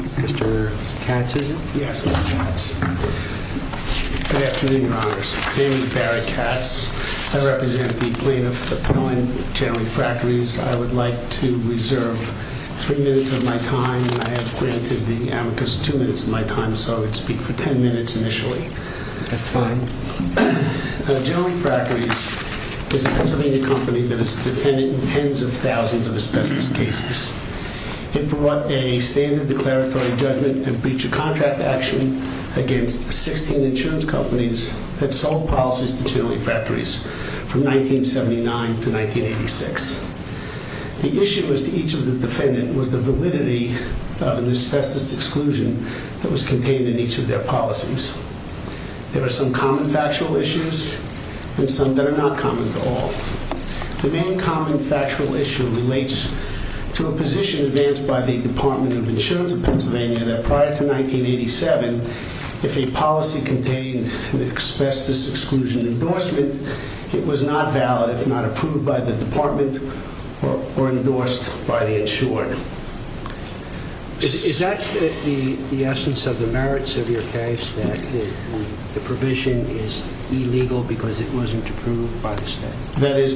Mr. Katz, is it? Yes, Mr. Katz. Good afternoon, Your Honors. My name is Barry Katz. I represent the plaintiff, Appellant General Refractories. I would like to reserve three minutes of my time. I have granted the amicus two minutes of my time, so I would speak for ten minutes initially. That's fine. General Refractories is a Pennsylvania company that has defended tens of thousands of asbestos cases. It brought a standard declaratory judgment and breached a contract action against 16 insurance companies that sold policies to General Refractories from 1979 to 1986. The issue with each of the defendants was the validity of an asbestos exclusion that was contained in each of their policies. There are some common factual issues and some that are not common at all. The main common factual issue relates to a position advanced by the Department of Insurance of Pennsylvania that prior to 1987, if a policy contained an asbestos exclusion endorsement, it was not valid if not approved by the department or endorsed by the insured. Is that the essence of the merits of your case, that the provision is illegal because it wasn't approved by the state? That's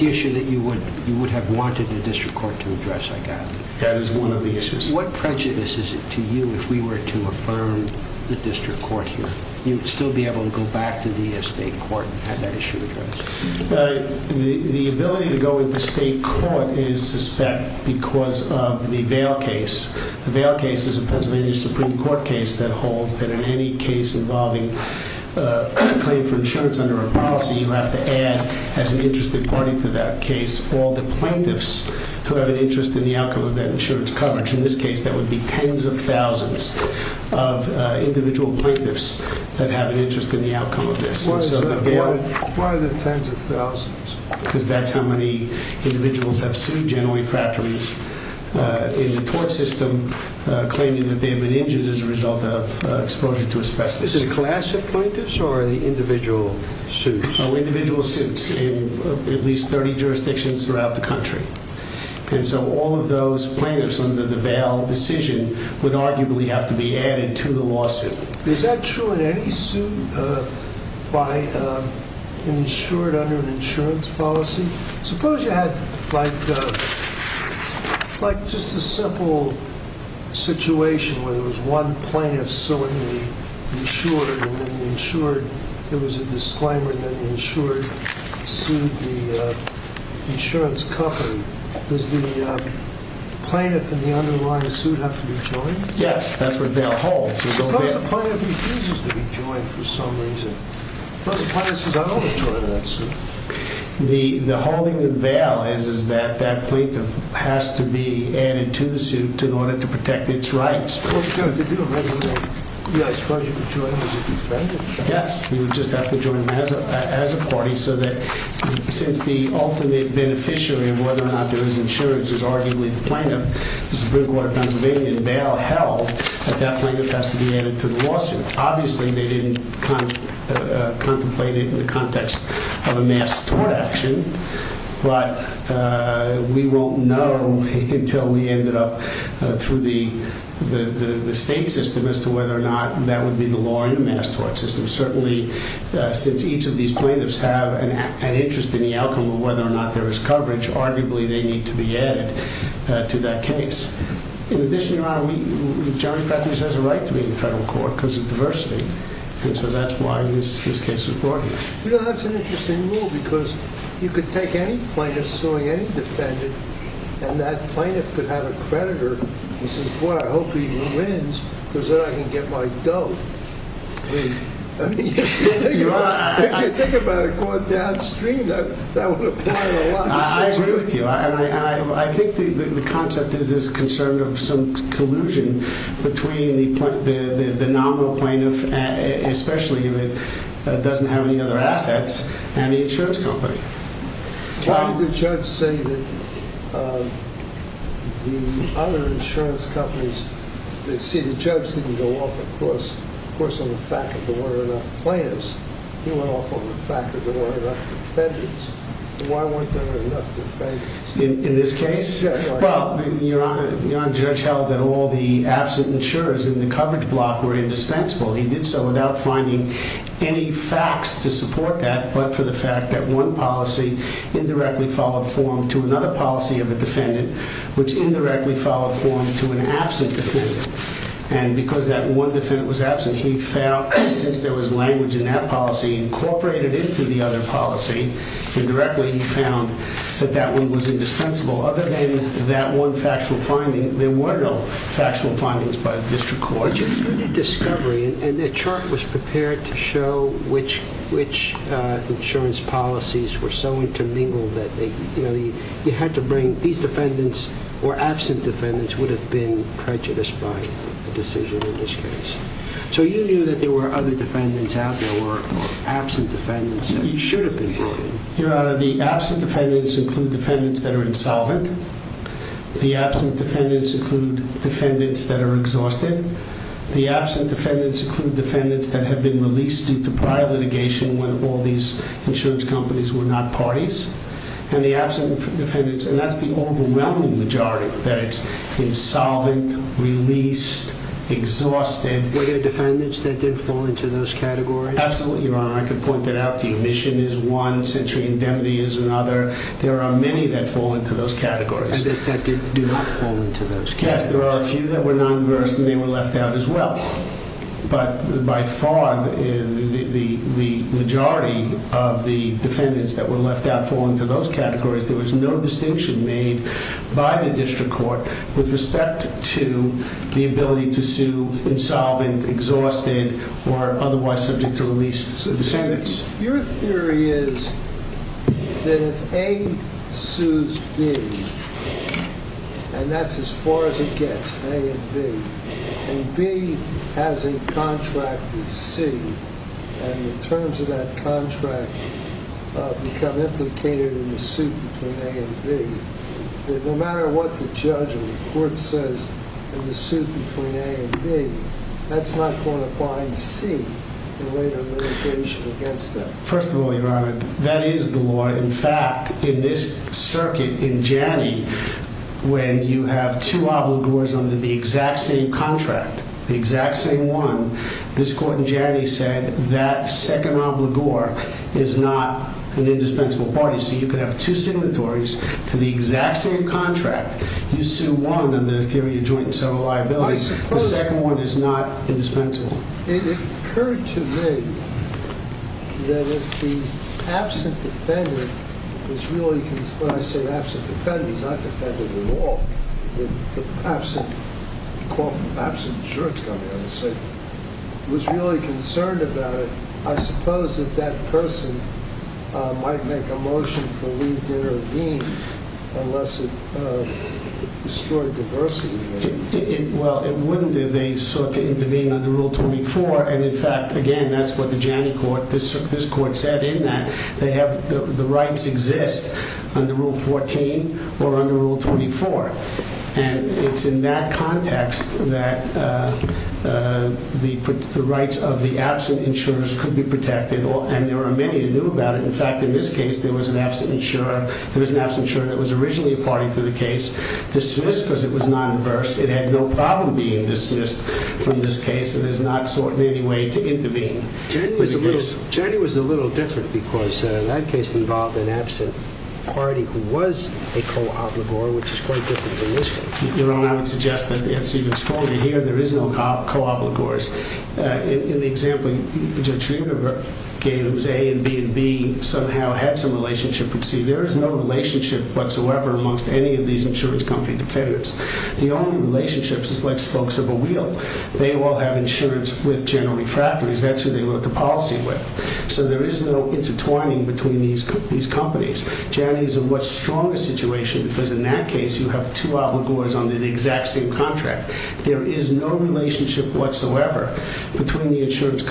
the issue that you would have wanted the district court to address, I gather. That is one of the issues. What prejudice is it to you if we were to affirm the district court here? You'd still be able to go back to the state court and have that issue addressed? The ability to go into state court is suspect because of the Vail case. The Vail case is a Pennsylvania Supreme Court case that holds that in any case involving a claim for insurance under a policy, you have to add, as an interested party to that case, all the plaintiffs who have an interest in the outcome of that insurance coverage. In this case, that would be tens of thousands of individual plaintiffs that have an interest in the outcome of this. Why are there tens of thousands? Because that's how many individuals have sued General Refractories in the tort system, claiming that they have been injured as a result of exposure to asbestos. Is it a class of plaintiffs or are they individual suits? Individual suits in at least 30 jurisdictions throughout the country. All of those plaintiffs under the Vail decision would arguably have to be added to the lawsuit. Is that true in any suit by an insured under an insurance policy? Suppose you had just a simple situation where there was one plaintiff suing the insured and then the insured, there was a disclaimer and then the insured sued the insurance company. Does the plaintiff in the underlying suit have to be joined? Yes, that's what Vail holds. Suppose the plaintiff refuses to be joined for some reason. Suppose the plaintiff says I don't want to join that suit. The holding of Vail is that that plaintiff has to be added to the suit in order to protect its rights. Yes, he would just have to join as a party so that since the ultimate beneficiary of whether or not there is insurance is arguably the plaintiff, the Supreme Court of Pennsylvania in Vail held that that plaintiff has to be added to the lawsuit. Obviously they didn't contemplate it in the context of a mass tort action, but we won't know until we ended up through the state system as to whether or not that would be the law in the mass tort system. Certainly since each of these plaintiffs have an interest in the outcome of whether or not there is coverage, arguably they need to be added to that case. In addition to that, Johnnie Patrick has a right to be in federal court because of diversity and so that's why his case was brought here. That's an interesting rule because you could take any plaintiff suing any defendant and that plaintiff could have a creditor who says, boy, I hope he wins because then I can get my dough. If you think about it going downstream, that would apply a lot. I agree with you. I think the concept is this concern of some collusion between the nominal plaintiff, especially if it doesn't have any other assets, and the insurance company. Why did the judge say that the other insurance companies didn't go off on the fact that there weren't enough plaintiffs? He went off on the fact that there weren't enough defendants. Why weren't there enough defendants? In this case, the judge held that all the absent insurers in the coverage block were indispensable. He did so without finding any facts to support that, but for the fact that one policy indirectly followed form to another policy of a defendant, which indirectly followed form to an absent defendant. Because that one defendant was absent, he found, since there was language in that policy incorporated into the other policy, indirectly he found that that one was indispensable. Other than that one factual finding, there were no factual findings by the district court. But your unit discovery, and the chart was prepared to show which insurance policies were so intermingled that you had to bring these defendants or absent defendants would have been prejudiced by the decision in this case. So you knew that there were other defendants out there or absent defendants that should have been brought in. Your Honor, the absent defendants include defendants that are insolvent. The absent defendants include defendants that are exhausted. The absent defendants include defendants that have been released due to prior litigation when all these insurance companies were not parties. And the absent defendants, and that's the overwhelming majority, that it's insolvent, released, exhausted. Were there defendants that did fall into those categories? Absolutely, Your Honor. I could point that out to you. Admission is one. Sentry indemnity is another. There are many that fall into those categories. And that did not fall into those categories? Yes, there are a few that were non-inverse, and they were left out as well. But by far, the majority of the defendants that were left out fall into those categories. There was no distinction made by the district court with respect to the ability to sue insolvent, exhausted, or otherwise subject to release defendants. Your theory is that if A sues B, and that's as far as it gets, A and B, and B has a contract with C, and the terms of that contract become implicated in the suit between A and B, that no matter what the judge or the court says in the suit between A and B, that's not going to bind C in later litigation against A. First of all, Your Honor, that is the law. In fact, in this circuit in Janney, when you have two obligors under the exact same contract, the exact same one, this court in Janney said that second obligor is not an indispensable party. So you could have two signatories to the exact same contract. You sue one under the theory of joint and several liabilities. The second one is not indispensable. It occurred to me that if the absent defendant was really concerned about it, I suppose that that person might make a motion for leave to intervene unless it destroyed diversity. Well, it wouldn't if they sought to intervene under Rule 24. And in fact, again, that's what the Janney court, this court said in that they have the rights exist under Rule 14 or under Rule 24. And it's in that context that the rights of the absent insurers could be protected. And there are many who knew about it. In fact, in this case, there was an absent insurer. There was an absent insurer that was originally a party to the case dismissed because it was non-inverse. It had no problem being dismissed from this case. It has not sought in any way to intervene. Janney was a little different because that case involved an absent party who was a co-obligor, which is quite different from this case. You know, I would suggest that it's even stronger here. There is no co-obligors. In the example Judge Riener gave, it was A and B and B somehow had some relationship, but see, there is no relationship whatsoever amongst any of these insurance company defendants. The only relationship is like spokes of a wheel. They all have insurance with General Refractories. That's who they wrote the policy with. So there is no intertwining between these companies. Janney is a much stronger situation because in that case, you have two obligors under the exact same contract. There is no relationship whatsoever between the insurance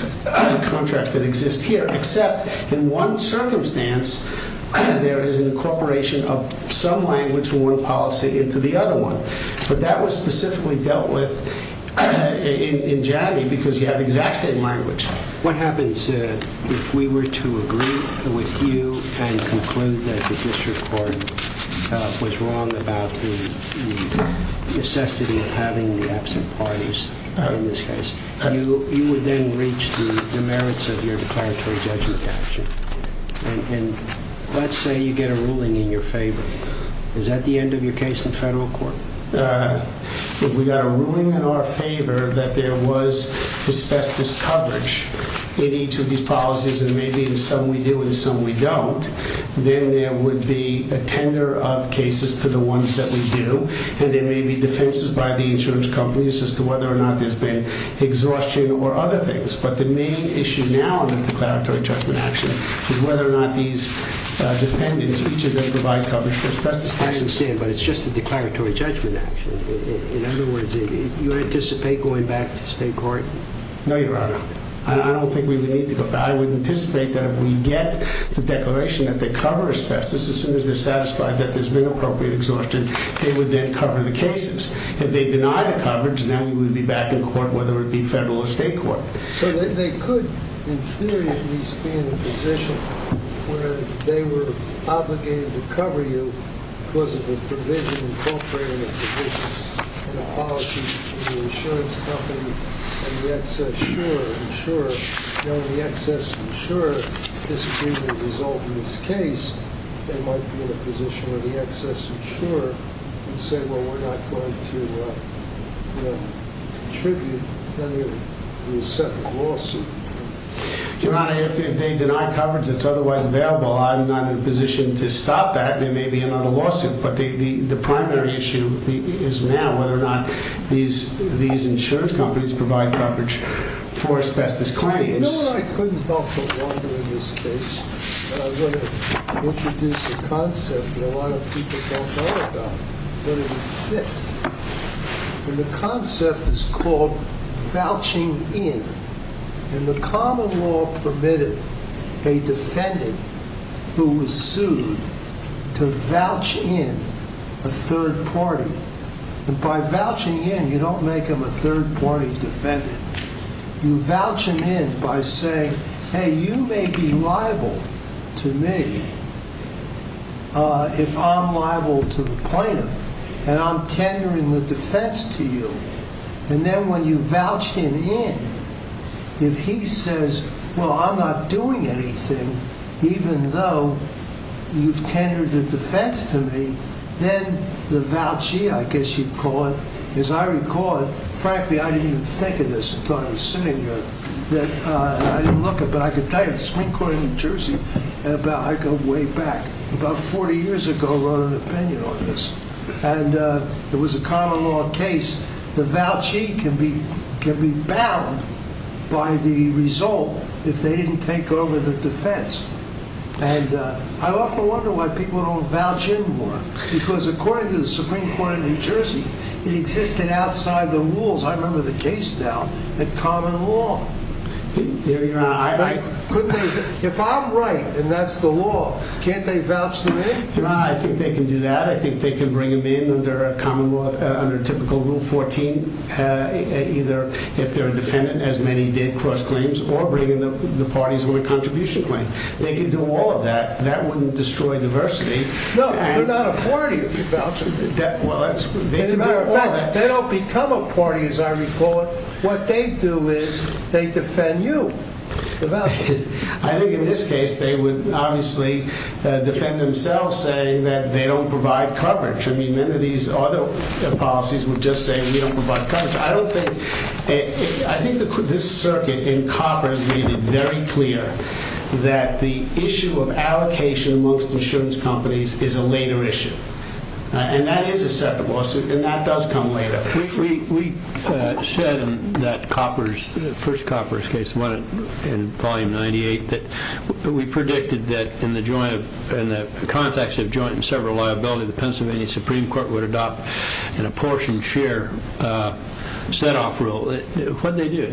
contracts that exist here, except in one circumstance, there is an incorporation of some language from one policy into the other one. But that was specifically dealt with in Janney because you have exact same language. What happens if we were to agree with you and conclude that the district court was wrong about the necessity of having the absent parties in this case? You would then reach the merits of your declaratory judgment action. Let's say you get a ruling in your favor. Is that the end of your case in federal court? If we got a ruling in our favor that there was asbestos coverage in each of these policies, and maybe in some we do and some we don't, then there would be a tender of cases to the ones that we do, and there may be defenses by the insurance companies as to whether or not there has been exhaustion or other things. I understand, but it's just a declaratory judgment action. In other words, you anticipate going back to state court? No, your honor. I don't think we would need to go back. I would anticipate that if we get the declaration that they cover asbestos, as soon as they're satisfied that there's been appropriate exhaustion, they would then cover the cases. If they deny the coverage, then we would be back in court, whether it be federal or state court. So they could, in theory at least, be in a position where if they were obligated to cover you because of the provision incorporating a provision in the policy between the insurance company and the excess insurer, knowing the excess insurer disagrees with the result of this case, they might be in a position where the excess insurer would say, well, we're not going to contribute. Your honor, if they deny coverage that's otherwise available, I'm not in a position to stop that. There may be another lawsuit, but the primary issue is now whether or not these insurance companies provide coverage for asbestos claims. You know what I couldn't help but wonder in this case? I'm going to introduce a concept that a lot of people don't know about, but it exists. The concept is called vouching in. And the common law permitted a defendant who was sued to vouch in a third party. And by vouching in, you don't make him a third party defendant. You vouch him in by saying, hey, you may be liable to me if I'm liable to the plaintiff, and I'm tendering the defense to you. And then when you vouch him in, if he says, well, I'm not doing anything, even though you've tendered the defense to me, then the vouchee, I guess you'd call it, as I recall it, frankly, I didn't even think of this until I was sitting here. And I often wonder why people don't vouch in more. Because according to the Supreme Court of New Jersey, it existed outside the rules. I remember the case now, that common law. And I often wonder why people don't vouch in more. If I'm right, and that's the law, can't they vouch them in? I think they can do that. I think they can bring them in under a common law, under typical Rule 14, either if they're a defendant, as many did cross claims, or bring in the parties on a contribution claim. They can do all of that. That wouldn't destroy diversity. No, they're not a party if you vouch them in. They don't become a party, as I recall it. What they do is they defend you. I think in this case, they would obviously defend themselves, saying that they don't provide coverage. I mean, many of these other policies would just say we don't provide coverage. I think this circuit in Copper is really very clear that the issue of allocation amongst insurance companies is a later issue. And that is a separate lawsuit, and that does come later. We said in that first Copper case, Volume 98, that we predicted that in the context of joint and several liability, the Pennsylvania Supreme Court would adopt an apportioned share set-off rule. What did they do?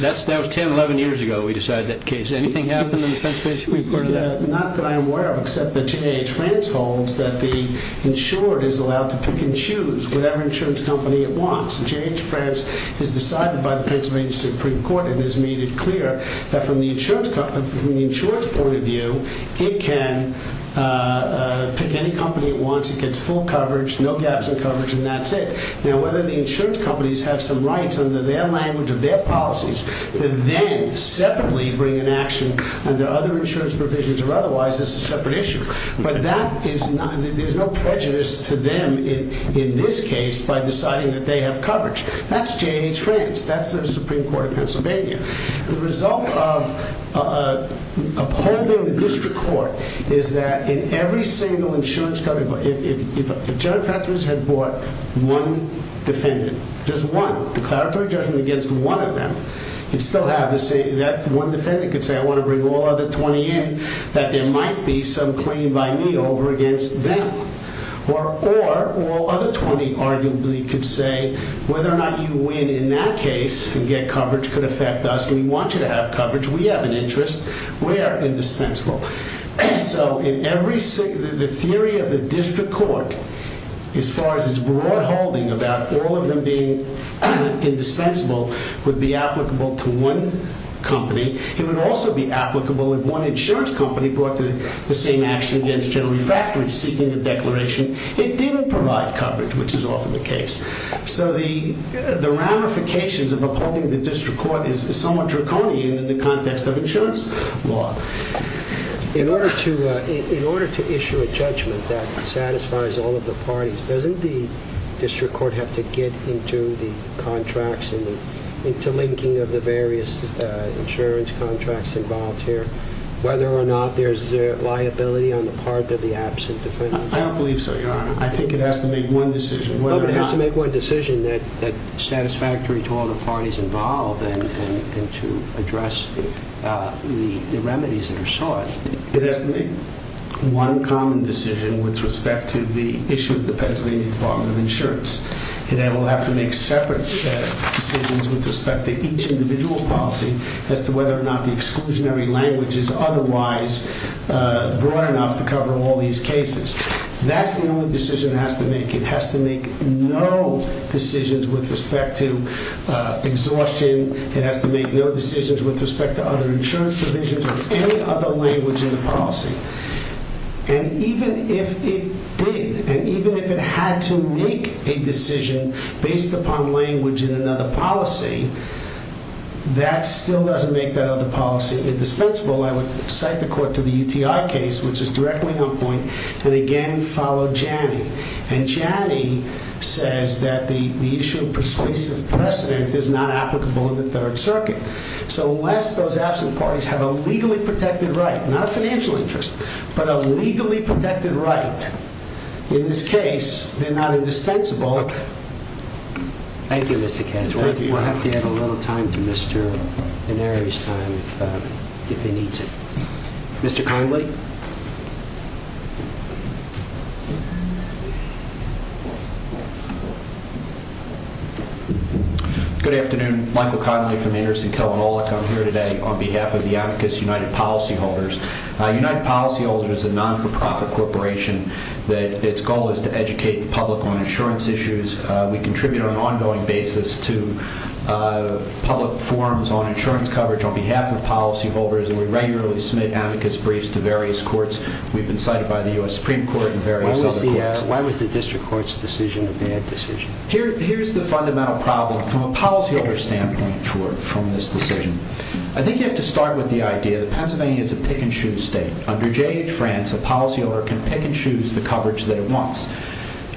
That was 10, 11 years ago we decided that case. Anything happen in the Pennsylvania Supreme Court in that? Not that I'm aware of, except that J.H. France holds that the insured is allowed to pick and choose whatever insurance company it wants. J.H. France is decided by the Pennsylvania Supreme Court and has made it clear that from the insurance point of view, it can pick any company it wants. It gets full coverage, no gaps in coverage, and that's it. Now whether the insurance companies have some rights under their language or their policies to then separately bring an action under other insurance provisions or otherwise is a separate issue. But there's no prejudice to them in this case by deciding that they have coverage. That's J.H. France. That's the Supreme Court of Pennsylvania. The result of upholding the district court is that in every single insurance company, if J.H. France had brought one defendant, just one, declaratory judgment against one of them, you'd still have to say that one defendant could say, I want to bring all other 20 in, that there might be some claim by me over against them. Or all other 20 arguably could say, whether or not you win in that case and get coverage could affect us. We want you to have coverage. We have an interest. We are indispensable. So the theory of the district court, as far as its broad holding about all of them being indispensable, would be applicable to one company. It would also be applicable if one insurance company brought the same action against General Refractory seeking a declaration. It didn't provide coverage, which is often the case. So the ramifications of upholding the district court is somewhat draconian in the context of insurance law. In order to issue a judgment that satisfies all of the parties, doesn't the district court have to get into the contracts and into linking of the various insurance contracts involved here, whether or not there's liability on the part of the absent defendant? I don't believe so, Your Honor. I think it has to make one decision. No, but it has to make one decision that's satisfactory to all the parties involved and to address the remedies that are sought. It has to make one common decision with respect to the issue of the Pennsylvania Department of Insurance. It will have to make separate decisions with respect to each individual policy as to whether or not the exclusionary language is otherwise broad enough to cover all these cases. That's the only decision it has to make. It has to make no decisions with respect to exhaustion. It has to make no decisions with respect to other insurance provisions or any other language in the policy. And even if it did, and even if it had to make a decision based upon language in another policy, that still doesn't make that other policy indispensable. I would cite the court to the UTI case, which is directly on point, and again follow Janney. And Janney says that the issue of persuasive precedent is not applicable in the Third Circuit. So unless those absent parties have a legally protected right, not a financial interest, but a legally protected right, in this case, they're not indispensable. Thank you, Mr. Kessler. We'll have to give a little time to Mr. Neri's time if he needs it. Mr. Conley? Good afternoon. Michael Conley from Anderson-Kelvin Allick. I'm here today on behalf of the Amicus United Policyholders. United Policyholders is a non-for-profit corporation. Its goal is to educate the public on insurance issues. We contribute on an ongoing basis to public forums on insurance coverage on behalf of policyholders. We regularly submit Amicus briefs to various courts. We've been cited by the U.S. Supreme Court and various other courts. Why was the district court's decision a bad decision? Here's the fundamental problem from a policyholder standpoint from this decision. I think you have to start with the idea that Pennsylvania is a pick-and-choose state. Under J.H. France, a policyholder can pick and choose the coverage that it wants.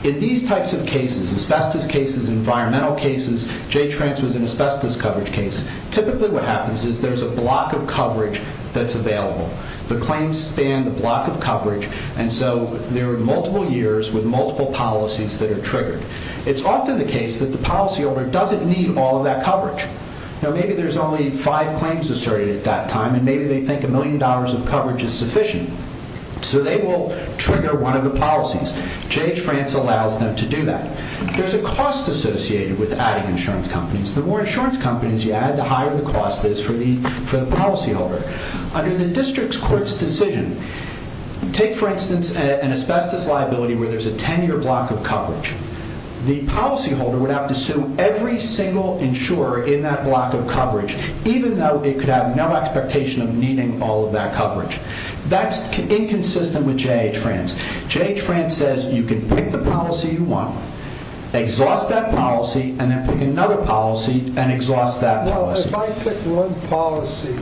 In these types of cases, asbestos cases, environmental cases, J.H. France was an asbestos coverage case. Typically what happens is there's a block of coverage that's available. The claims span the block of coverage, and so there are multiple years with multiple policies that are triggered. It's often the case that the policyholder doesn't need all that coverage. Maybe there's only five claims asserted at that time, and maybe they think a million dollars of coverage is sufficient. So they will trigger one of the policies. J.H. France allows them to do that. There's a cost associated with adding insurance companies. The more insurance companies you add, the higher the cost is for the policyholder. Under the district court's decision, take for instance an asbestos liability where there's a ten-year block of coverage. The policyholder would have to sue every single insurer in that block of coverage, even though it could have no expectation of needing all of that coverage. That's inconsistent with J.H. France. J.H. France says you can pick the policy you want, exhaust that policy, and then pick another policy and exhaust that policy. Well, if I pick one policy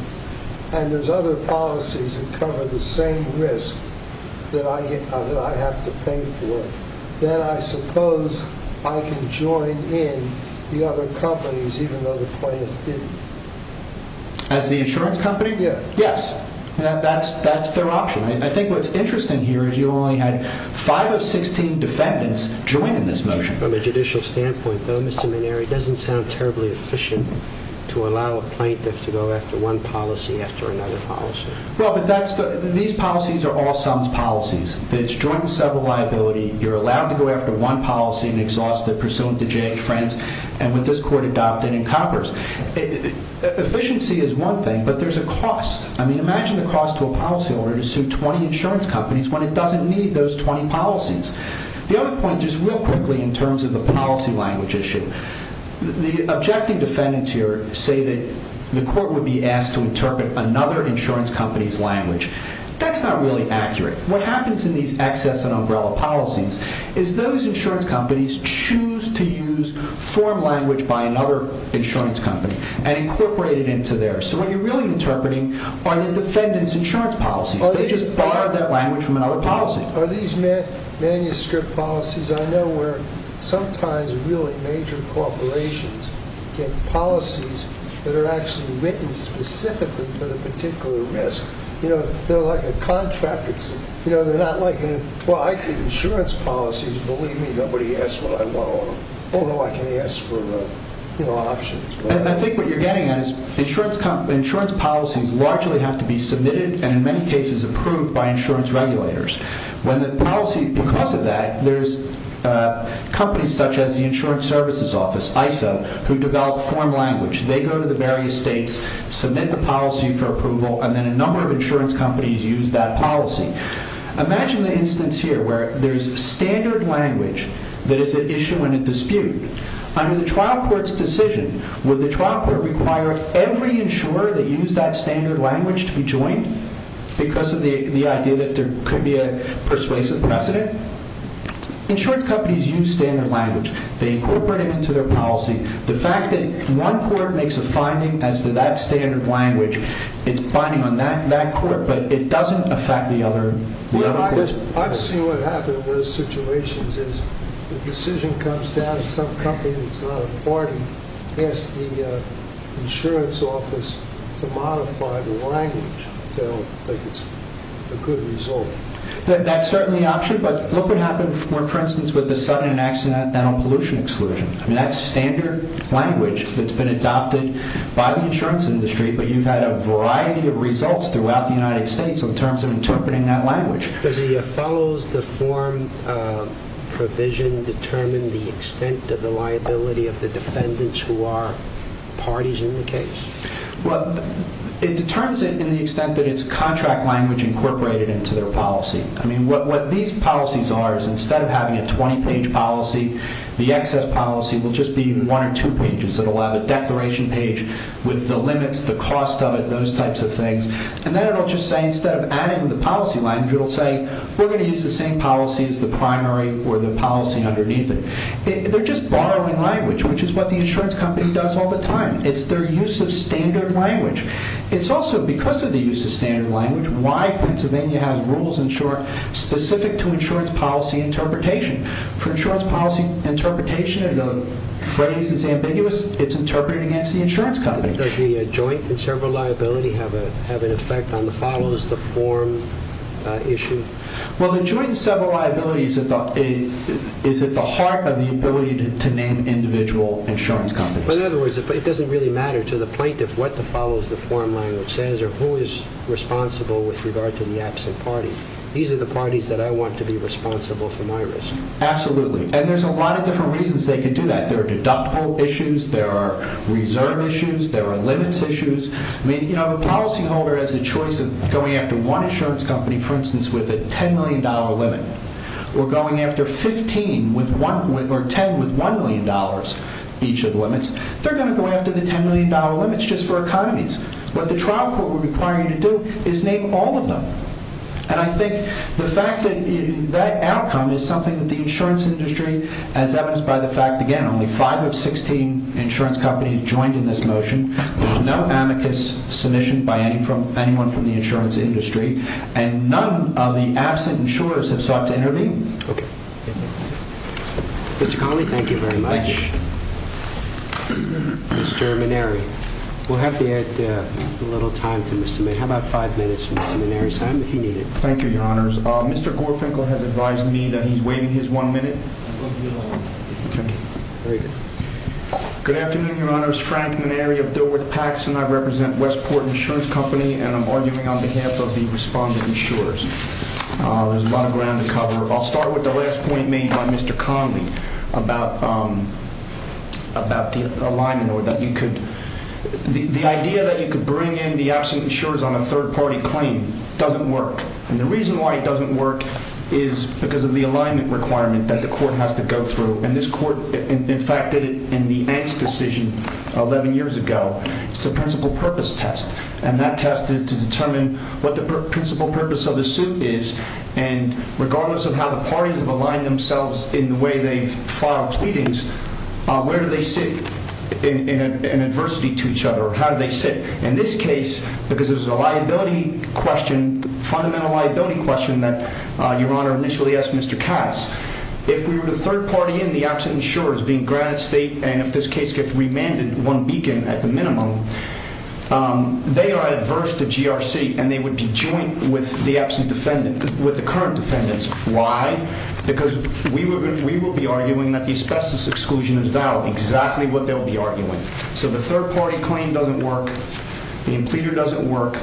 and there's other policies that cover the same risk that I have to pay for, then I suppose I can join in the other companies, even though the plaintiff didn't. As the insurance company? Yes. Yes. That's their option. I think what's interesting here is you only had five of 16 defendants join in this motion. From a judicial standpoint, though, Mr. Manieri, it doesn't sound terribly efficient to allow a plaintiff to go after one policy after another policy. These policies are all sums policies. It's joint and several liability. You're allowed to go after one policy and exhaust it pursuant to J.H. France and what this court adopted in Congress. Efficiency is one thing, but there's a cost. I mean, imagine the cost to a policyholder to sue 20 insurance companies when it doesn't need those 20 policies. The other point is real quickly in terms of the policy language issue. The objecting defendants here say that the court would be asked to interpret another insurance company's language. That's not really accurate. What happens in these access and umbrella policies is those insurance companies choose to use form language by another insurance company and incorporate it into theirs. So what you're really interpreting are the defendants' insurance policies. They just borrowed that language from another policy. Are these manuscript policies? I know where sometimes really major corporations get policies that are actually written specifically for the particular risk. They're like a contract. They're not like, well, I get insurance policies. Believe me, nobody asks what I want. Although I can ask for options. I think what you're getting at is insurance policies largely have to be submitted and in many cases approved by insurance regulators. Because of that, there's companies such as the Insurance Services Office, ISO, who develop form language. They go to the various states, submit the policy for approval, and then a number of insurance companies use that policy. Imagine the instance here where there's standard language that is an issue and a dispute. Under the trial court's decision, would the trial court require every insurer that used that standard language to be joined? Because of the idea that there could be a persuasive precedent? Insurance companies use standard language. They incorporate it into their policy. The fact that one court makes a finding as to that standard language, it's binding on that court, but it doesn't affect the other courts. I've seen what happens in those situations is the decision comes down and some company that's not a party asks the insurance office to modify the language. They don't think it's a good result. That's certainly an option, but look what happened, for instance, with the sudden and accidental pollution exclusion. That's standard language that's been adopted by the insurance industry, but you've had a variety of results throughout the United States in terms of interpreting that language. Does the follows-the-form provision determine the extent of the liability of the defendants who are parties in the case? It determines it in the extent that it's contract language incorporated into their policy. What these policies are is instead of having a 20-page policy, the excess policy will just be one or two pages. It'll have a declaration page with the limits, the cost of it, those types of things. Then it'll just say, instead of adding the policy language, it'll say, we're going to use the same policy as the primary or the policy underneath it. They're just borrowing language, which is what the insurance company does all the time. It's their use of standard language. It's also because of the use of standard language why Pennsylvania has rules in short specific to insurance policy interpretation. For insurance policy interpretation, if the phrase is ambiguous, it's interpreted against the insurance company. Does the joint and several liability have an effect on the follows-the-form issue? Well, the joint and several liability is at the heart of the ability to name individual insurance companies. In other words, it doesn't really matter to the plaintiff what the follows-the-form language says or who is responsible with regard to the absent parties. These are the parties that I want to be responsible for my risk. Absolutely. There's a lot of different reasons they could do that. There are deductible issues. There are reserve issues. There are limits issues. The policyholder has a choice of going after one insurance company, for instance, with a $10 million limit or going after 15 or 10 with $1 million each of limits. They're going to go after the $10 million limits just for economies. What the trial court would require you to do is name all of them. And I think the fact that that outcome is something that the insurance industry, as evidenced by the fact, again, only five of 16 insurance companies joined in this motion. There's no amicus submission by anyone from the insurance industry. And none of the absent insurers have sought to intervene. Okay. Mr. Connolly, thank you very much. Thank you. Mr. Maneri, we'll have to add a little time to Mr. Maneri. How about five minutes for Mr. Maneri's time if you need it? Thank you, Your Honors. Mr. Gorfinkel has advised me that he's waiting his one minute. Okay. Very good. Good afternoon, Your Honors. Frank Maneri of Dilworth Paxson. I represent Westport Insurance Company, and I'm arguing on behalf of the respondent insurers. There's a lot of ground to cover. I'll start with the last point made by Mr. Connolly about the alignment or that you could – the idea that you could bring in the absent insurers on a third-party claim doesn't work. And the reason why it doesn't work is because of the alignment requirement that the court has to go through. And this court, in fact, did it in the Angst decision 11 years ago. It's a principal purpose test, and that test is to determine what the principal purpose of the suit is. And regardless of how the parties have aligned themselves in the way they've filed pleadings, where do they sit in adversity to each other, or how do they sit? In this case, because it was a liability question, fundamental liability question that Your Honor initially asked Mr. Katz, if we were the third party and the absent insurers being Granite State, and if this case gets remanded one beacon at the minimum, they are adverse to GRC, and they would be joint with the current defendants. Why? Because we will be arguing that the asbestos exclusion is valid. Exactly what they'll be arguing. So the third-party claim doesn't work. The impleeder doesn't work.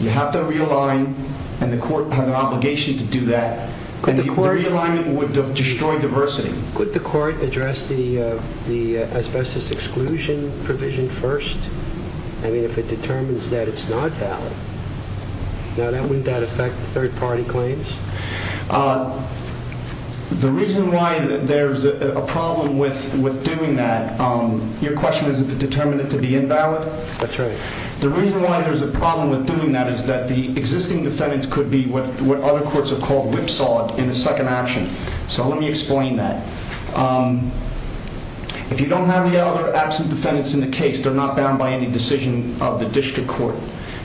You have to realign, and the court has an obligation to do that. And the realignment would destroy diversity. Could the court address the asbestos exclusion provision first? I mean, if it determines that it's not valid. Now, wouldn't that affect third-party claims? The reason why there's a problem with doing that, your question is if it determined it to be invalid? That's right. The reason why there's a problem with doing that is that the existing defendants could be what other courts have called whipsawed in the second action. So let me explain that. If you don't have the other absent defendants in the case, they're not bound by any decision of the district court.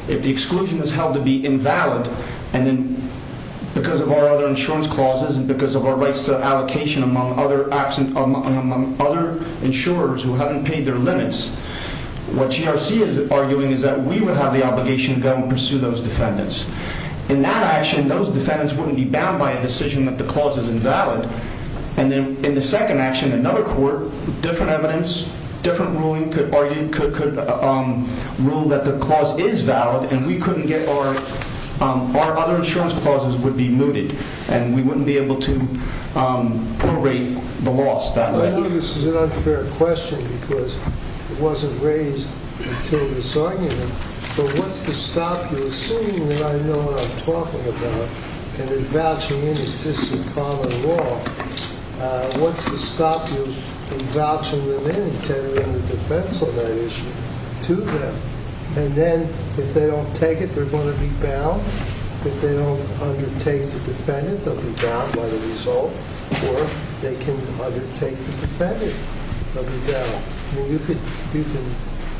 If the exclusion is held to be invalid, and then because of our other insurance clauses and because of our rights to allocation among other insurers who haven't paid their limits, what GRC is arguing is that we would have the obligation to go and pursue those defendants. In that action, those defendants wouldn't be bound by a decision that the clause is invalid. And then in the second action, another court, different evidence, different ruling could argue, could rule that the clause is valid, and we couldn't get our other insurance clauses would be mooted, and we wouldn't be able to probate the loss that way. I know this is an unfair question because it wasn't raised until this argument. But what's to stop you, assuming that I know what I'm talking about, and in vouching in existing common law, what's to stop you in vouching them in and tendering the defense on that issue to them? And then if they don't take it, they're going to be bound. If they don't undertake to defend it, they'll be bound by the result, or they can undertake to defend it. I mean, you can,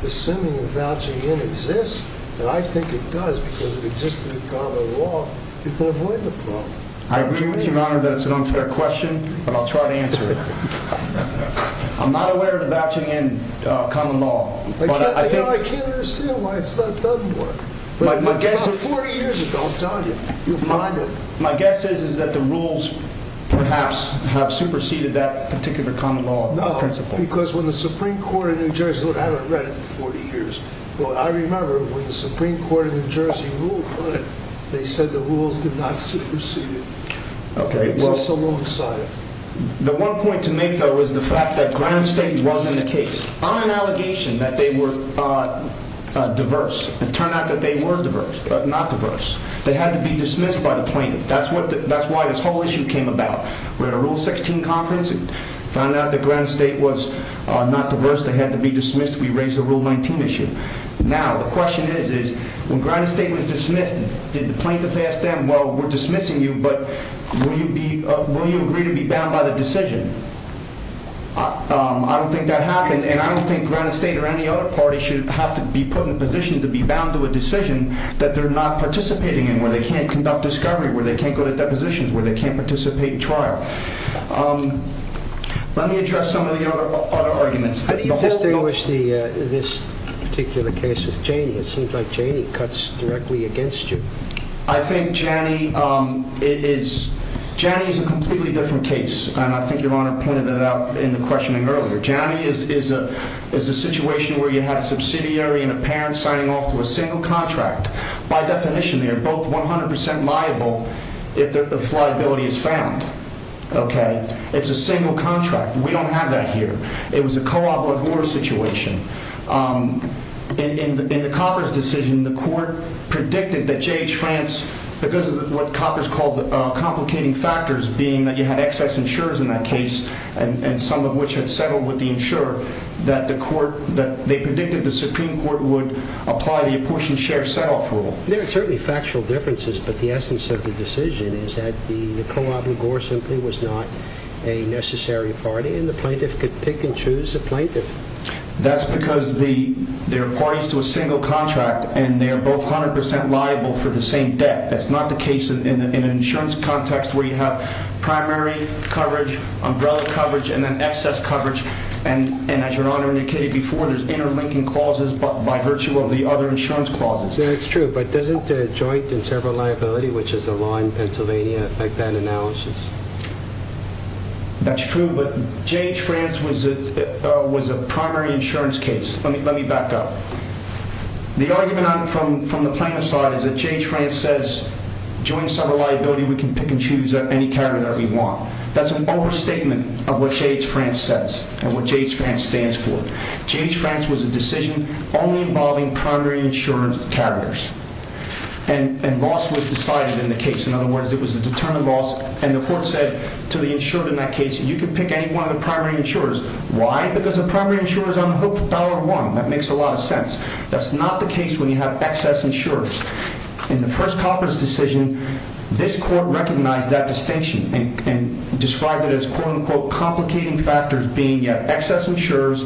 assuming that vouching in exists, and I think it does because it exists in common law, you can avoid the problem. I agree with you, Your Honor, that it's an unfair question, but I'll try to answer it. I'm not aware of the vouching in common law. I can't understand why it's not done more. It's about 40 years ago, I'm telling you. You'll find it. My guess is that the rules perhaps have superseded that particular common law principle. No, because when the Supreme Court of New Jersey, look, I haven't read it in 40 years. Well, I remember when the Supreme Court of New Jersey ruled on it, they said the rules did not supersede it. Okay. It's just alongside it. The one point to make, though, was the fact that Grand State wasn't the case. On an allegation that they were diverse, it turned out that they were diverse, but not diverse. They had to be dismissed by the plaintiff. That's why this whole issue came about. We had a Rule 16 conference and found out that Grand State was not diverse. They had to be dismissed. We raised the Rule 19 issue. Now, the question is, when Grand State was dismissed, did the plaintiff ask them, well, we're dismissing you, but will you agree to be bound by the decision? I don't think that happened, and I don't think Grand State or any other party should have to be put in a position to be bound to a decision that they're not participating in, where they can't conduct discovery, where they can't go to depositions, where they can't participate in trial. Let me address some of the other arguments. You've distinguished this particular case with Janney. It seems like Janney cuts directly against you. I think Janney is a completely different case. And I think Your Honor pointed that out in the questioning earlier. Janney is a situation where you have a subsidiary and a parent signing off to a single contract. By definition, they are both 100% liable if liability is found. Okay? It's a single contract. We don't have that here. It was a co-op-la-gore situation. In the Copper's decision, the court predicted that J.H. France, because of what Copper's called complicating factors, being that you had excess insurers in that case, and some of which had settled with the insurer, that they predicted the Supreme Court would apply the apportion-share-settle-off rule. There are certainly factual differences, but the essence of the decision is that the co-op-la-gore simply was not a necessary party, and the plaintiff could pick and choose a plaintiff. That's because they're parties to a single contract, and they're both 100% liable for the same debt. That's not the case in an insurance context where you have primary coverage, umbrella coverage, and then excess coverage. And as Your Honor indicated before, there's interlinking clauses by virtue of the other insurance clauses. That's true, but doesn't joint and several liability, which is the law in Pennsylvania, affect that analysis? That's true, but J.H. France was a primary insurance case. Let me back up. The argument from the plaintiff's side is that J.H. France says, joint and several liability, we can pick and choose any carrier that we want. That's an overstatement of what J.H. France says, and what J.H. France stands for. J.H. France was a decision only involving primary insurance carriers, and loss was decided in the case. In other words, it was a deterrent loss, and the court said to the insured in that case, you can pick any one of the primary insurers. Why? Because the primary insurer is on the hook for dollar one. That makes a lot of sense. That's not the case when you have excess insurers. In the first Copper's decision, this court recognized that distinction, and described it as, quote-unquote, complicating factors being you have excess insurers,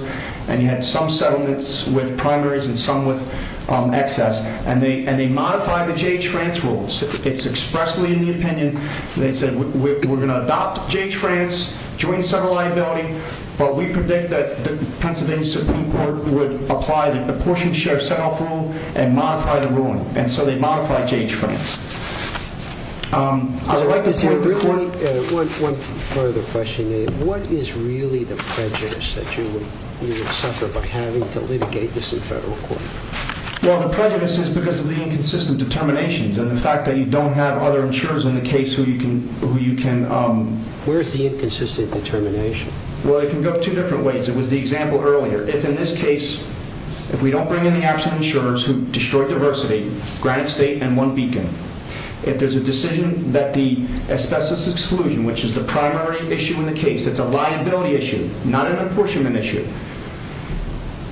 and you had some settlements with primaries and some with excess, and they modified the J.H. France rules. It's expressly in the opinion, and they said, we're going to adopt J.H. France, joint and several liability, but we predict that the Pennsylvania Supreme Court would apply the proportion share set-off rule, and modify the ruling, and so they modified J.H. France. One further question, what is really the prejudice that you would suffer by having to litigate this in federal court? Well, the prejudice is because of the inconsistent determinations, and the fact that you don't have other insurers in the case who you can... Where is the inconsistent determination? Well, it can go two different ways. It was the example earlier. If in this case, if we don't bring in the absent insurers who destroyed diversity, granted state, and one beacon, if there's a decision that the asbestos exclusion, which is the primary issue in the case, it's a liability issue, not an apportionment issue.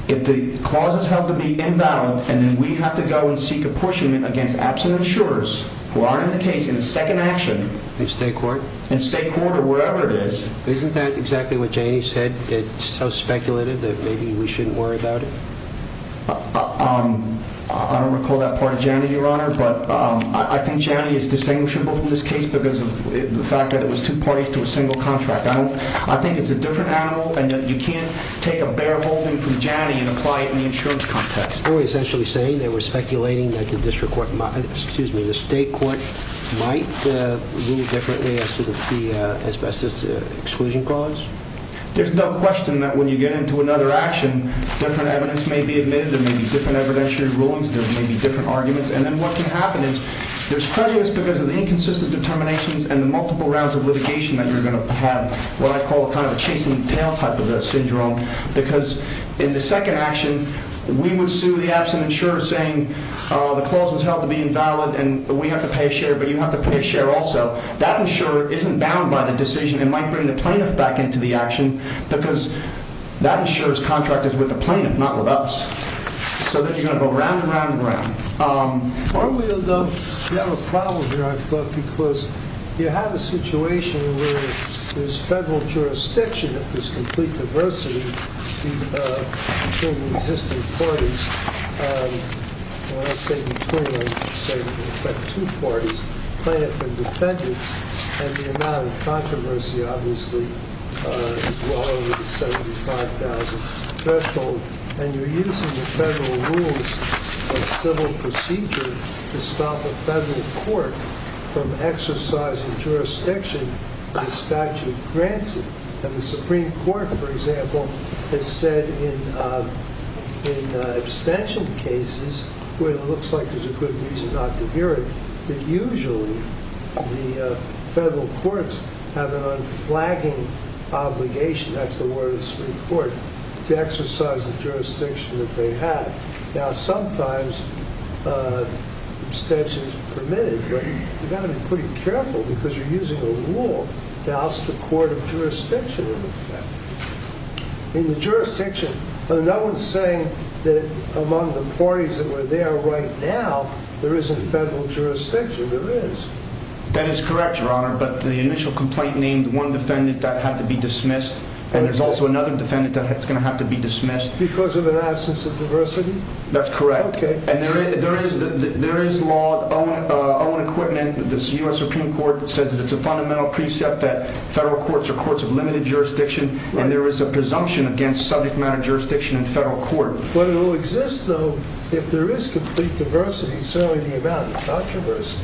If the clause is held to be invalid, and then we have to go and seek apportionment against absent insurers, who are in the case in second action... In state court? In state court, or wherever it is. Isn't that exactly what Janie said? It's so speculative that maybe we shouldn't worry about it? I don't recall that part of Janie, Your Honor, but I think Janie is distinguishable from this case, because of the fact that it was two parties to a single contract. I think it's a different animal, and you can't take a bear holding from Janie and apply it in the insurance context. Are we essentially saying that we're speculating that the state court might rule differently as to the asbestos exclusion clause? There's no question that when you get into another action, different evidence may be admitted, there may be different evidentiary rulings, there may be different arguments, and then what can happen is there's prejudice because of the inconsistent determinations and the multiple rounds of litigation that you're going to have what I call kind of a chasing tail type of a syndrome, because in the second action, we would sue the absent insurer saying the clause was held to be invalid and we have to pay a share, but you have to pay a share also. That insurer isn't bound by the decision and might bring the plaintiff back into the action, because that insurer's contract is with the plaintiff, not with us. So then you're going to go round and round and round. You have a problem here, I thought, because you have a situation where there's federal jurisdiction. If there's complete diversity between the existing parties, when I say between them, I'm saying between two parties, plaintiff and defendants, and the amount of controversy obviously is well over the 75,000 threshold, and you're using the federal rules of civil procedure to stop a federal court from exercising jurisdiction the statute grants it, and the Supreme Court, for example, has said in abstention cases, where it looks like there's a good reason not to hear it, that usually the federal courts have an unflagging obligation, that's the word of the Supreme Court, to exercise the jurisdiction that they have. Now, sometimes abstention is permitted, but you've got to be pretty careful, because you're using a rule to oust the court of jurisdiction. In the jurisdiction, no one's saying that among the parties that were there right now, there isn't federal jurisdiction. There is. That is correct, Your Honor, but the initial complaint named one defendant that had to be dismissed, and there's also another defendant that's going to have to be dismissed. Because of an absence of diversity? That's correct, and there is law on equipment, the U.S. Supreme Court says that it's a fundamental precept that federal courts are courts of limited jurisdiction, and there is a presumption against subject matter jurisdiction in federal court. But it will exist, though, if there is complete diversity, certainly the amount of controversy.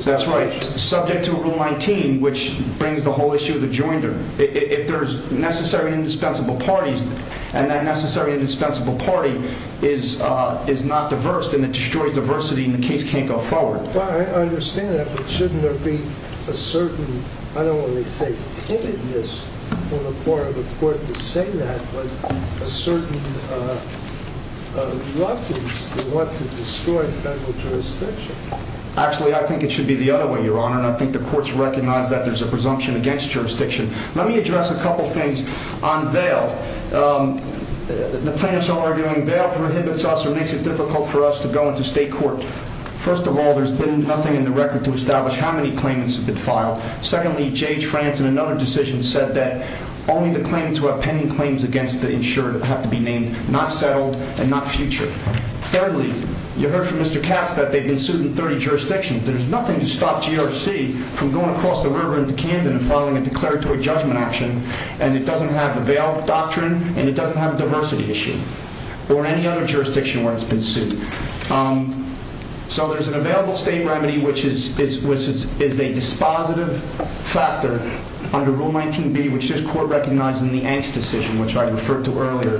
That's right, subject to Rule 19, which brings the whole issue of the joinder. If there's necessary and indispensable parties, and that necessary and indispensable party is not diverse, then it destroys diversity, and the case can't go forward. I understand that, but shouldn't there be a certain, I don't want to say timidness on the part of the court to say that, but a certain reluctance to want to destroy federal jurisdiction? Actually, I think it should be the other way, Your Honor, and I think the courts recognize that there's a presumption against jurisdiction. Let me address a couple things on bail. The plaintiffs are arguing bail prohibits us or makes it difficult for us to go into state court. First of all, there's been nothing in the record to establish how many claimants have been filed. Secondly, J.H. France in another decision said that only the claimants who have pending claims against the insured have to be named, not settled, and not future. Thirdly, you heard from Mr. Katz that they've been sued in 30 jurisdictions. There's nothing to stop GRC from going across the river into Camden and filing a declaratory judgment action, and it doesn't have the bail doctrine, and it doesn't have a diversity issue, or any other jurisdiction where it's been sued. So there's an available state remedy, which is a dispositive factor under Rule 19B, which this court recognized in the Angst decision, which I referred to earlier.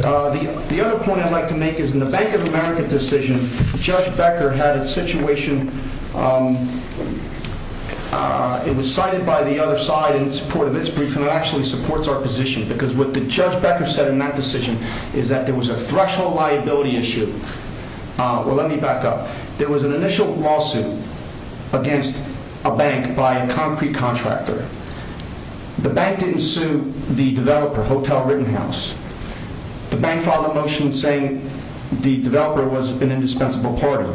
The other point I'd like to make is in the Bank of America decision, Judge Becker had a situation, it was cited by the other side in support of its brief, and it actually supports our position, because what Judge Becker said in that decision is that there was a threshold liability issue. Well, let me back up. There was an initial lawsuit against a bank by a concrete contractor. The bank didn't sue the developer, Hotel Rittenhouse. The bank filed a motion saying the developer was an indispensable party.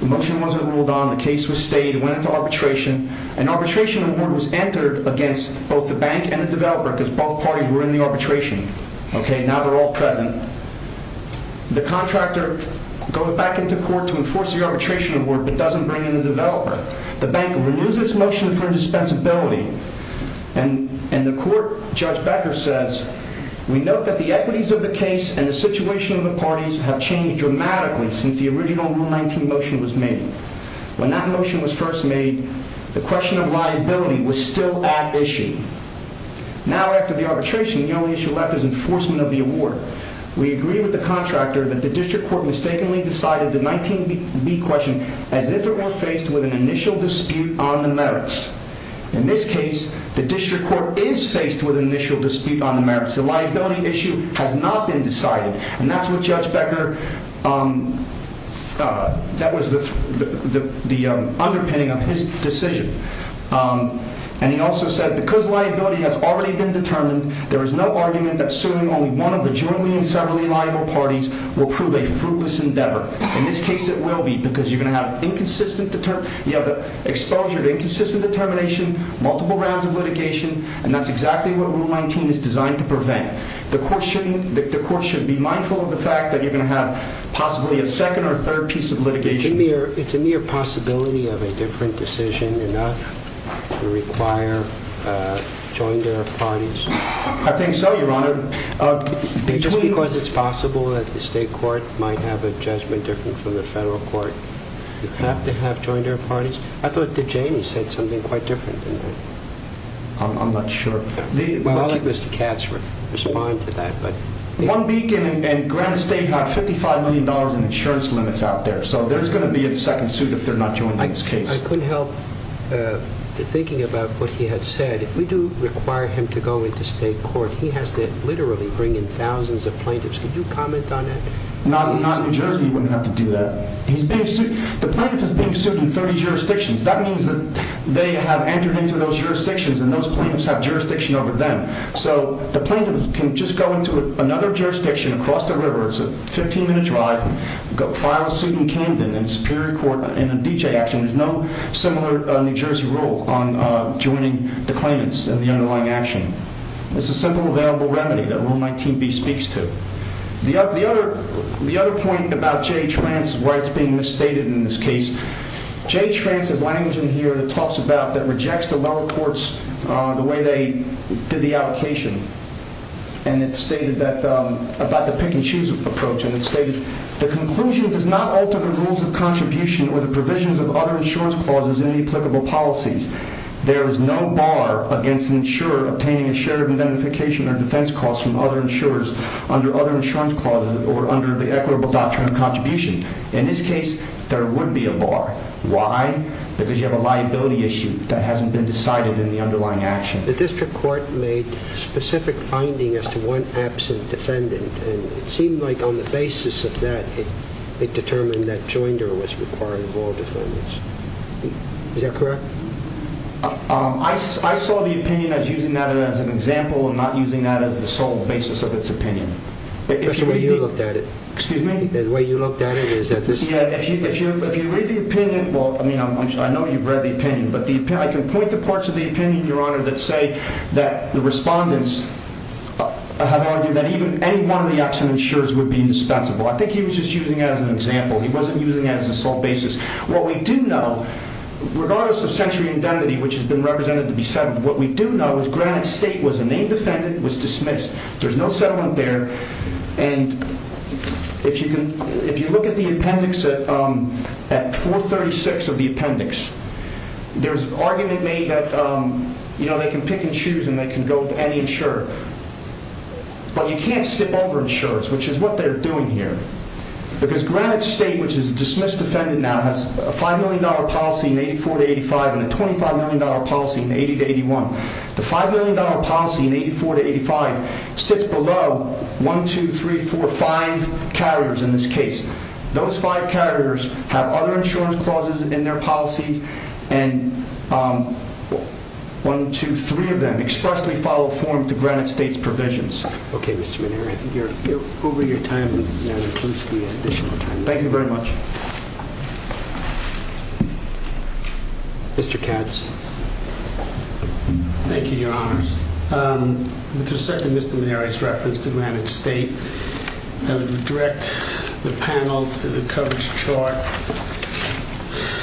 The motion wasn't ruled on, the case was stayed, it went into arbitration. An arbitration award was entered against both the bank and the developer, because both parties were in the arbitration. Okay, now they're all present. The contractor goes back into court to enforce the arbitration award, but doesn't bring in the developer. The bank removes its motion for indispensability, and the court, Judge Becker says, we note that the equities of the case and the situation of the parties have changed dramatically since the original Rule 19 motion was made. When that motion was first made, the question of liability was still at issue. Now, after the arbitration, the only issue left is enforcement of the award. We agree with the contractor that the district court mistakenly decided the 19B question as if it were faced with an initial dispute on the merits. In this case, the district court is faced with an initial dispute on the merits. The liability issue has not been decided, and that's what Judge Becker, that was the underpinning of his decision. And he also said, because liability has already been determined, there is no argument that suing only one of the jointly and separately liable parties will prove a fruitless endeavor. In this case, it will be, because you're going to have inconsistent, you have the exposure to inconsistent determination, multiple rounds of litigation, and that's exactly what Rule 19 is designed to prevent. The court should be mindful of the fact that you're going to have possibly a second or third piece of litigation. It's a mere possibility of a different decision enough to require jointed parties. I think so, Your Honor. Just because it's possible that the state court might have a judgment different from the federal court, you have to have jointed parties. I thought that Jamie said something quite different. I'm not sure. I'll let Mr. Katz respond to that. One Beacon and Granite State have $55 million in insurance limits out there, so there's going to be a second suit if they're not joined in this case. I couldn't help thinking about what he had said. If we do require him to go into state court, he has to literally bring in thousands of plaintiffs. Could you comment on that? Not in New Jersey, he wouldn't have to do that. The plaintiff is being sued in 30 jurisdictions. That means that they have entered into those jurisdictions, and those plaintiffs have jurisdiction over them. So the plaintiff can just go into another jurisdiction across the river. It's a 15-minute drive. File a suit in Camden, in a Superior Court, in a D.J. action. There's no similar New Jersey rule on joining the claimants in the underlying action. It's a simple available remedy that Rule 19b speaks to. The other point about Jay Trant's rights being misstated in this case, Jay Trant's language in here that talks about that rejects the lower courts, the way they did the allocation, and it's stated about the pick-and-choose approach, and it's stated, the conclusion does not alter the rules of contribution or the provisions of other insurance clauses in any applicable policies. There is no bar against an insurer obtaining a share of identification or defense costs from other insurers under other insurance clauses or under the equitable doctrine of contribution. In this case, there would be a bar. Why? Because you have a liability issue that hasn't been decided in the underlying action. The district court made specific findings as to one absent defendant, and it seemed like on the basis of that, it determined that Joinder was required of all defendants. Is that correct? I saw the opinion as using that as an example and not using that as the sole basis of its opinion. That's the way you looked at it. Excuse me? The way you looked at it is that this... Yeah, if you read the opinion, well, I mean, I know you've read the opinion, but I can point to parts of the opinion, Your Honor, that say that the respondents have argued that any one of the absent insurers would be indispensable. I think he was just using that as an example. He wasn't using that as a sole basis. What we do know, regardless of sensory indemnity, which has been represented to be settled, what we do know is Granite State was a named defendant, was dismissed. There's no settlement there. And if you look at the appendix at 436 of the appendix, there's an argument made that, you know, they can pick and choose and they can go to any insurer. But you can't skip over insurers, which is what they're doing here. Because Granite State, which is a dismissed defendant now, has a $5 million policy in 84-85 and a $25 million policy in 80-81. The $5 million policy in 84-85 sits below 1, 2, 3, 4, 5 carriers in this case. Those 5 carriers have other insurance clauses in their policies and 1, 2, 3 of them expressly follow form to Granite State's provisions. Okay, Mr. McNary, I think you're over your time, and that includes the additional time. Thank you very much. Mr. Katz. Thank you, Your Honors. With respect to Mr. McNary's reference to Granite State, I would direct the panel to the coverage chart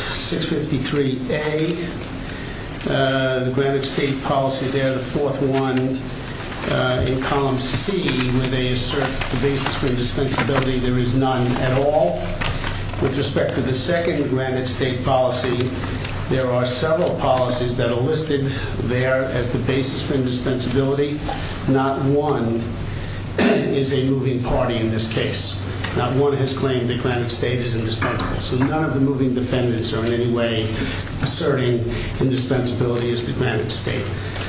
653A, the Granite State policy there, the fourth one in column C, where they assert the basis for indispensability. There is none at all. With respect to the second Granite State policy, there are several policies that are listed there as the basis for indispensability. Not one is a moving party in this case. Not one has claimed that Granite State is indispensable. So none of the moving defendants are in any way asserting indispensability as to Granite State.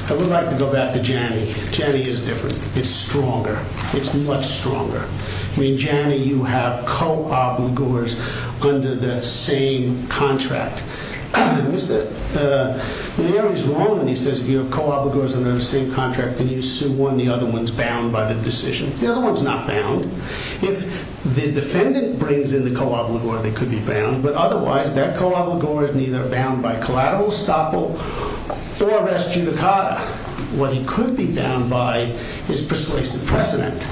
I would like to go back to Janney. Janney is different. It's stronger. It's much stronger. I mean, Janney, you have co-obligors under the same contract. Mr. McNary's wrong when he says if you have co-obligors under the same contract, then you sue one, the other one's bound by the decision. The other one's not bound. If the defendant brings in the co-obligor, they could be bound. But otherwise, that co-obligor is neither bound by collateral estoppel or res judicata. What he could be bound by is persuasive precedent.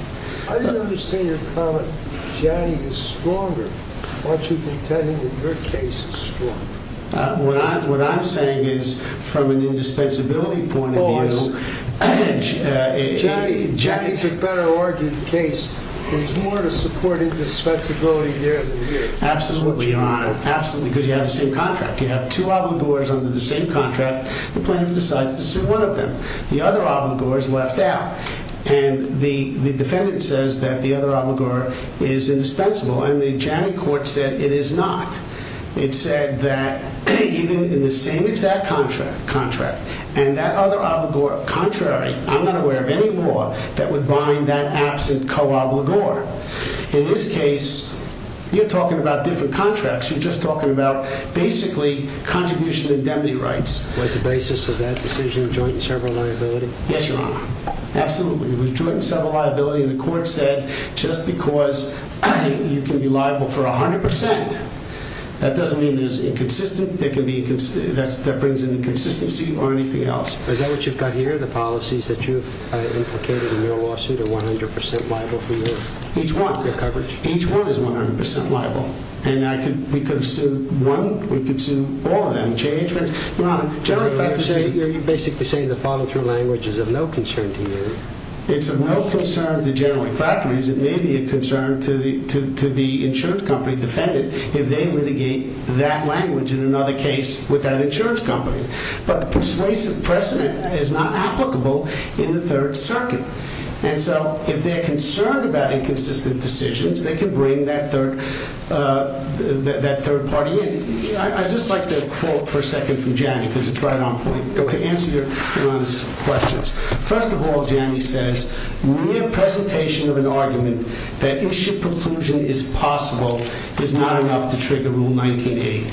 I didn't understand your comment that Janney is stronger. Aren't you pretending that your case is strong? What I'm saying is from an indispensability point of view. Janney's a better argued case. There's more to supporting dispensability here than here. Absolutely, Your Honor. Absolutely, because you have the same contract. You have two obligors under the same contract. The plaintiff decides to sue one of them. The other obligor is left out. And the defendant says that the other obligor is indispensable. And the Janney court said it is not. It said that even in the same exact contract, and that other obligor, contrary, I'm not aware of any law that would bind that absent co-obligor. In this case, you're talking about different contracts. You're just talking about basically contribution indemnity rights. Was the basis of that decision joint and several liability? Yes, Your Honor. Absolutely. It was joint and several liability. And the court said just because you can be liable for 100%, that doesn't mean it is inconsistent. That brings an inconsistency or anything else. Is that what you've got here, the policies that you've implicated in your lawsuit are 100% liable for your coverage? Each one. Each one is 100% liable. And we could sue one, we could sue all of them. Your Honor, generally speaking. You're basically saying the follow-through language is of no concern to you. It's of no concern to General Infractory as it may be a concern to the insurance company defendant if they litigate that language in another case with that insurance company. But the persuasive precedent is not applicable in the Third Circuit. And so if they're concerned about inconsistent decisions, they can bring that third party in. I'd just like to quote for a second from Janney because it's right on point. To answer Your Honor's questions. First of all, Janney says, mere presentation of an argument that issue preclusion is possible is not enough to trigger Rule 1982.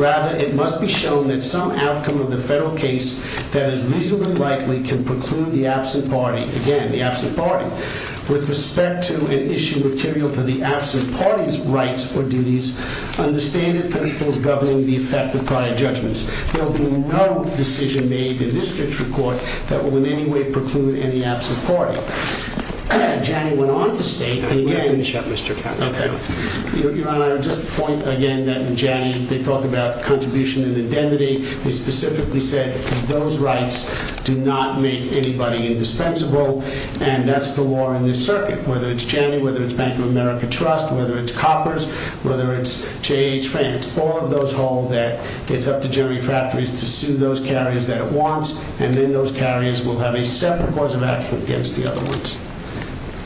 Rather, it must be shown that some outcome of the federal case that is reasonably likely can preclude the absent party. Again, the absent party. With respect to an issue material for the absent party's rights or duties, under standard principles governing the effect of prior judgments, there will be no decision made in this district court that will in any way preclude any absent party. Janney went on to state... You're going to have to shut Mr. Couch down. Your Honor, I would just point again that in Janney, they talked about contribution and indemnity. They specifically said that those rights do not make anybody indispensable. And that's the law in this circuit. Whether it's Janney, whether it's Bank of America Trust, whether it's Coppers, whether it's J.H. Frank, it's all of those hold that it's up to Jerry Factories to sue those carriers that it wants. And then those carriers will have a separate course of action against the other ones.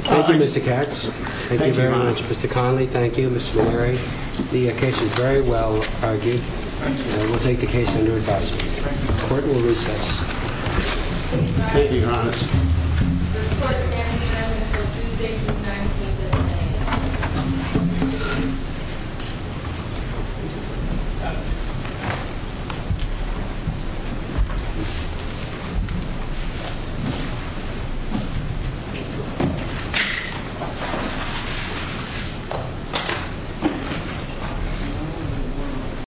Thank you, Mr. Katz. Thank you very much. Mr. Connolly, thank you. Mr. O'Leary, the case was very well argued. We'll take the case under advisement. Thank you, Your Honor. Thank you.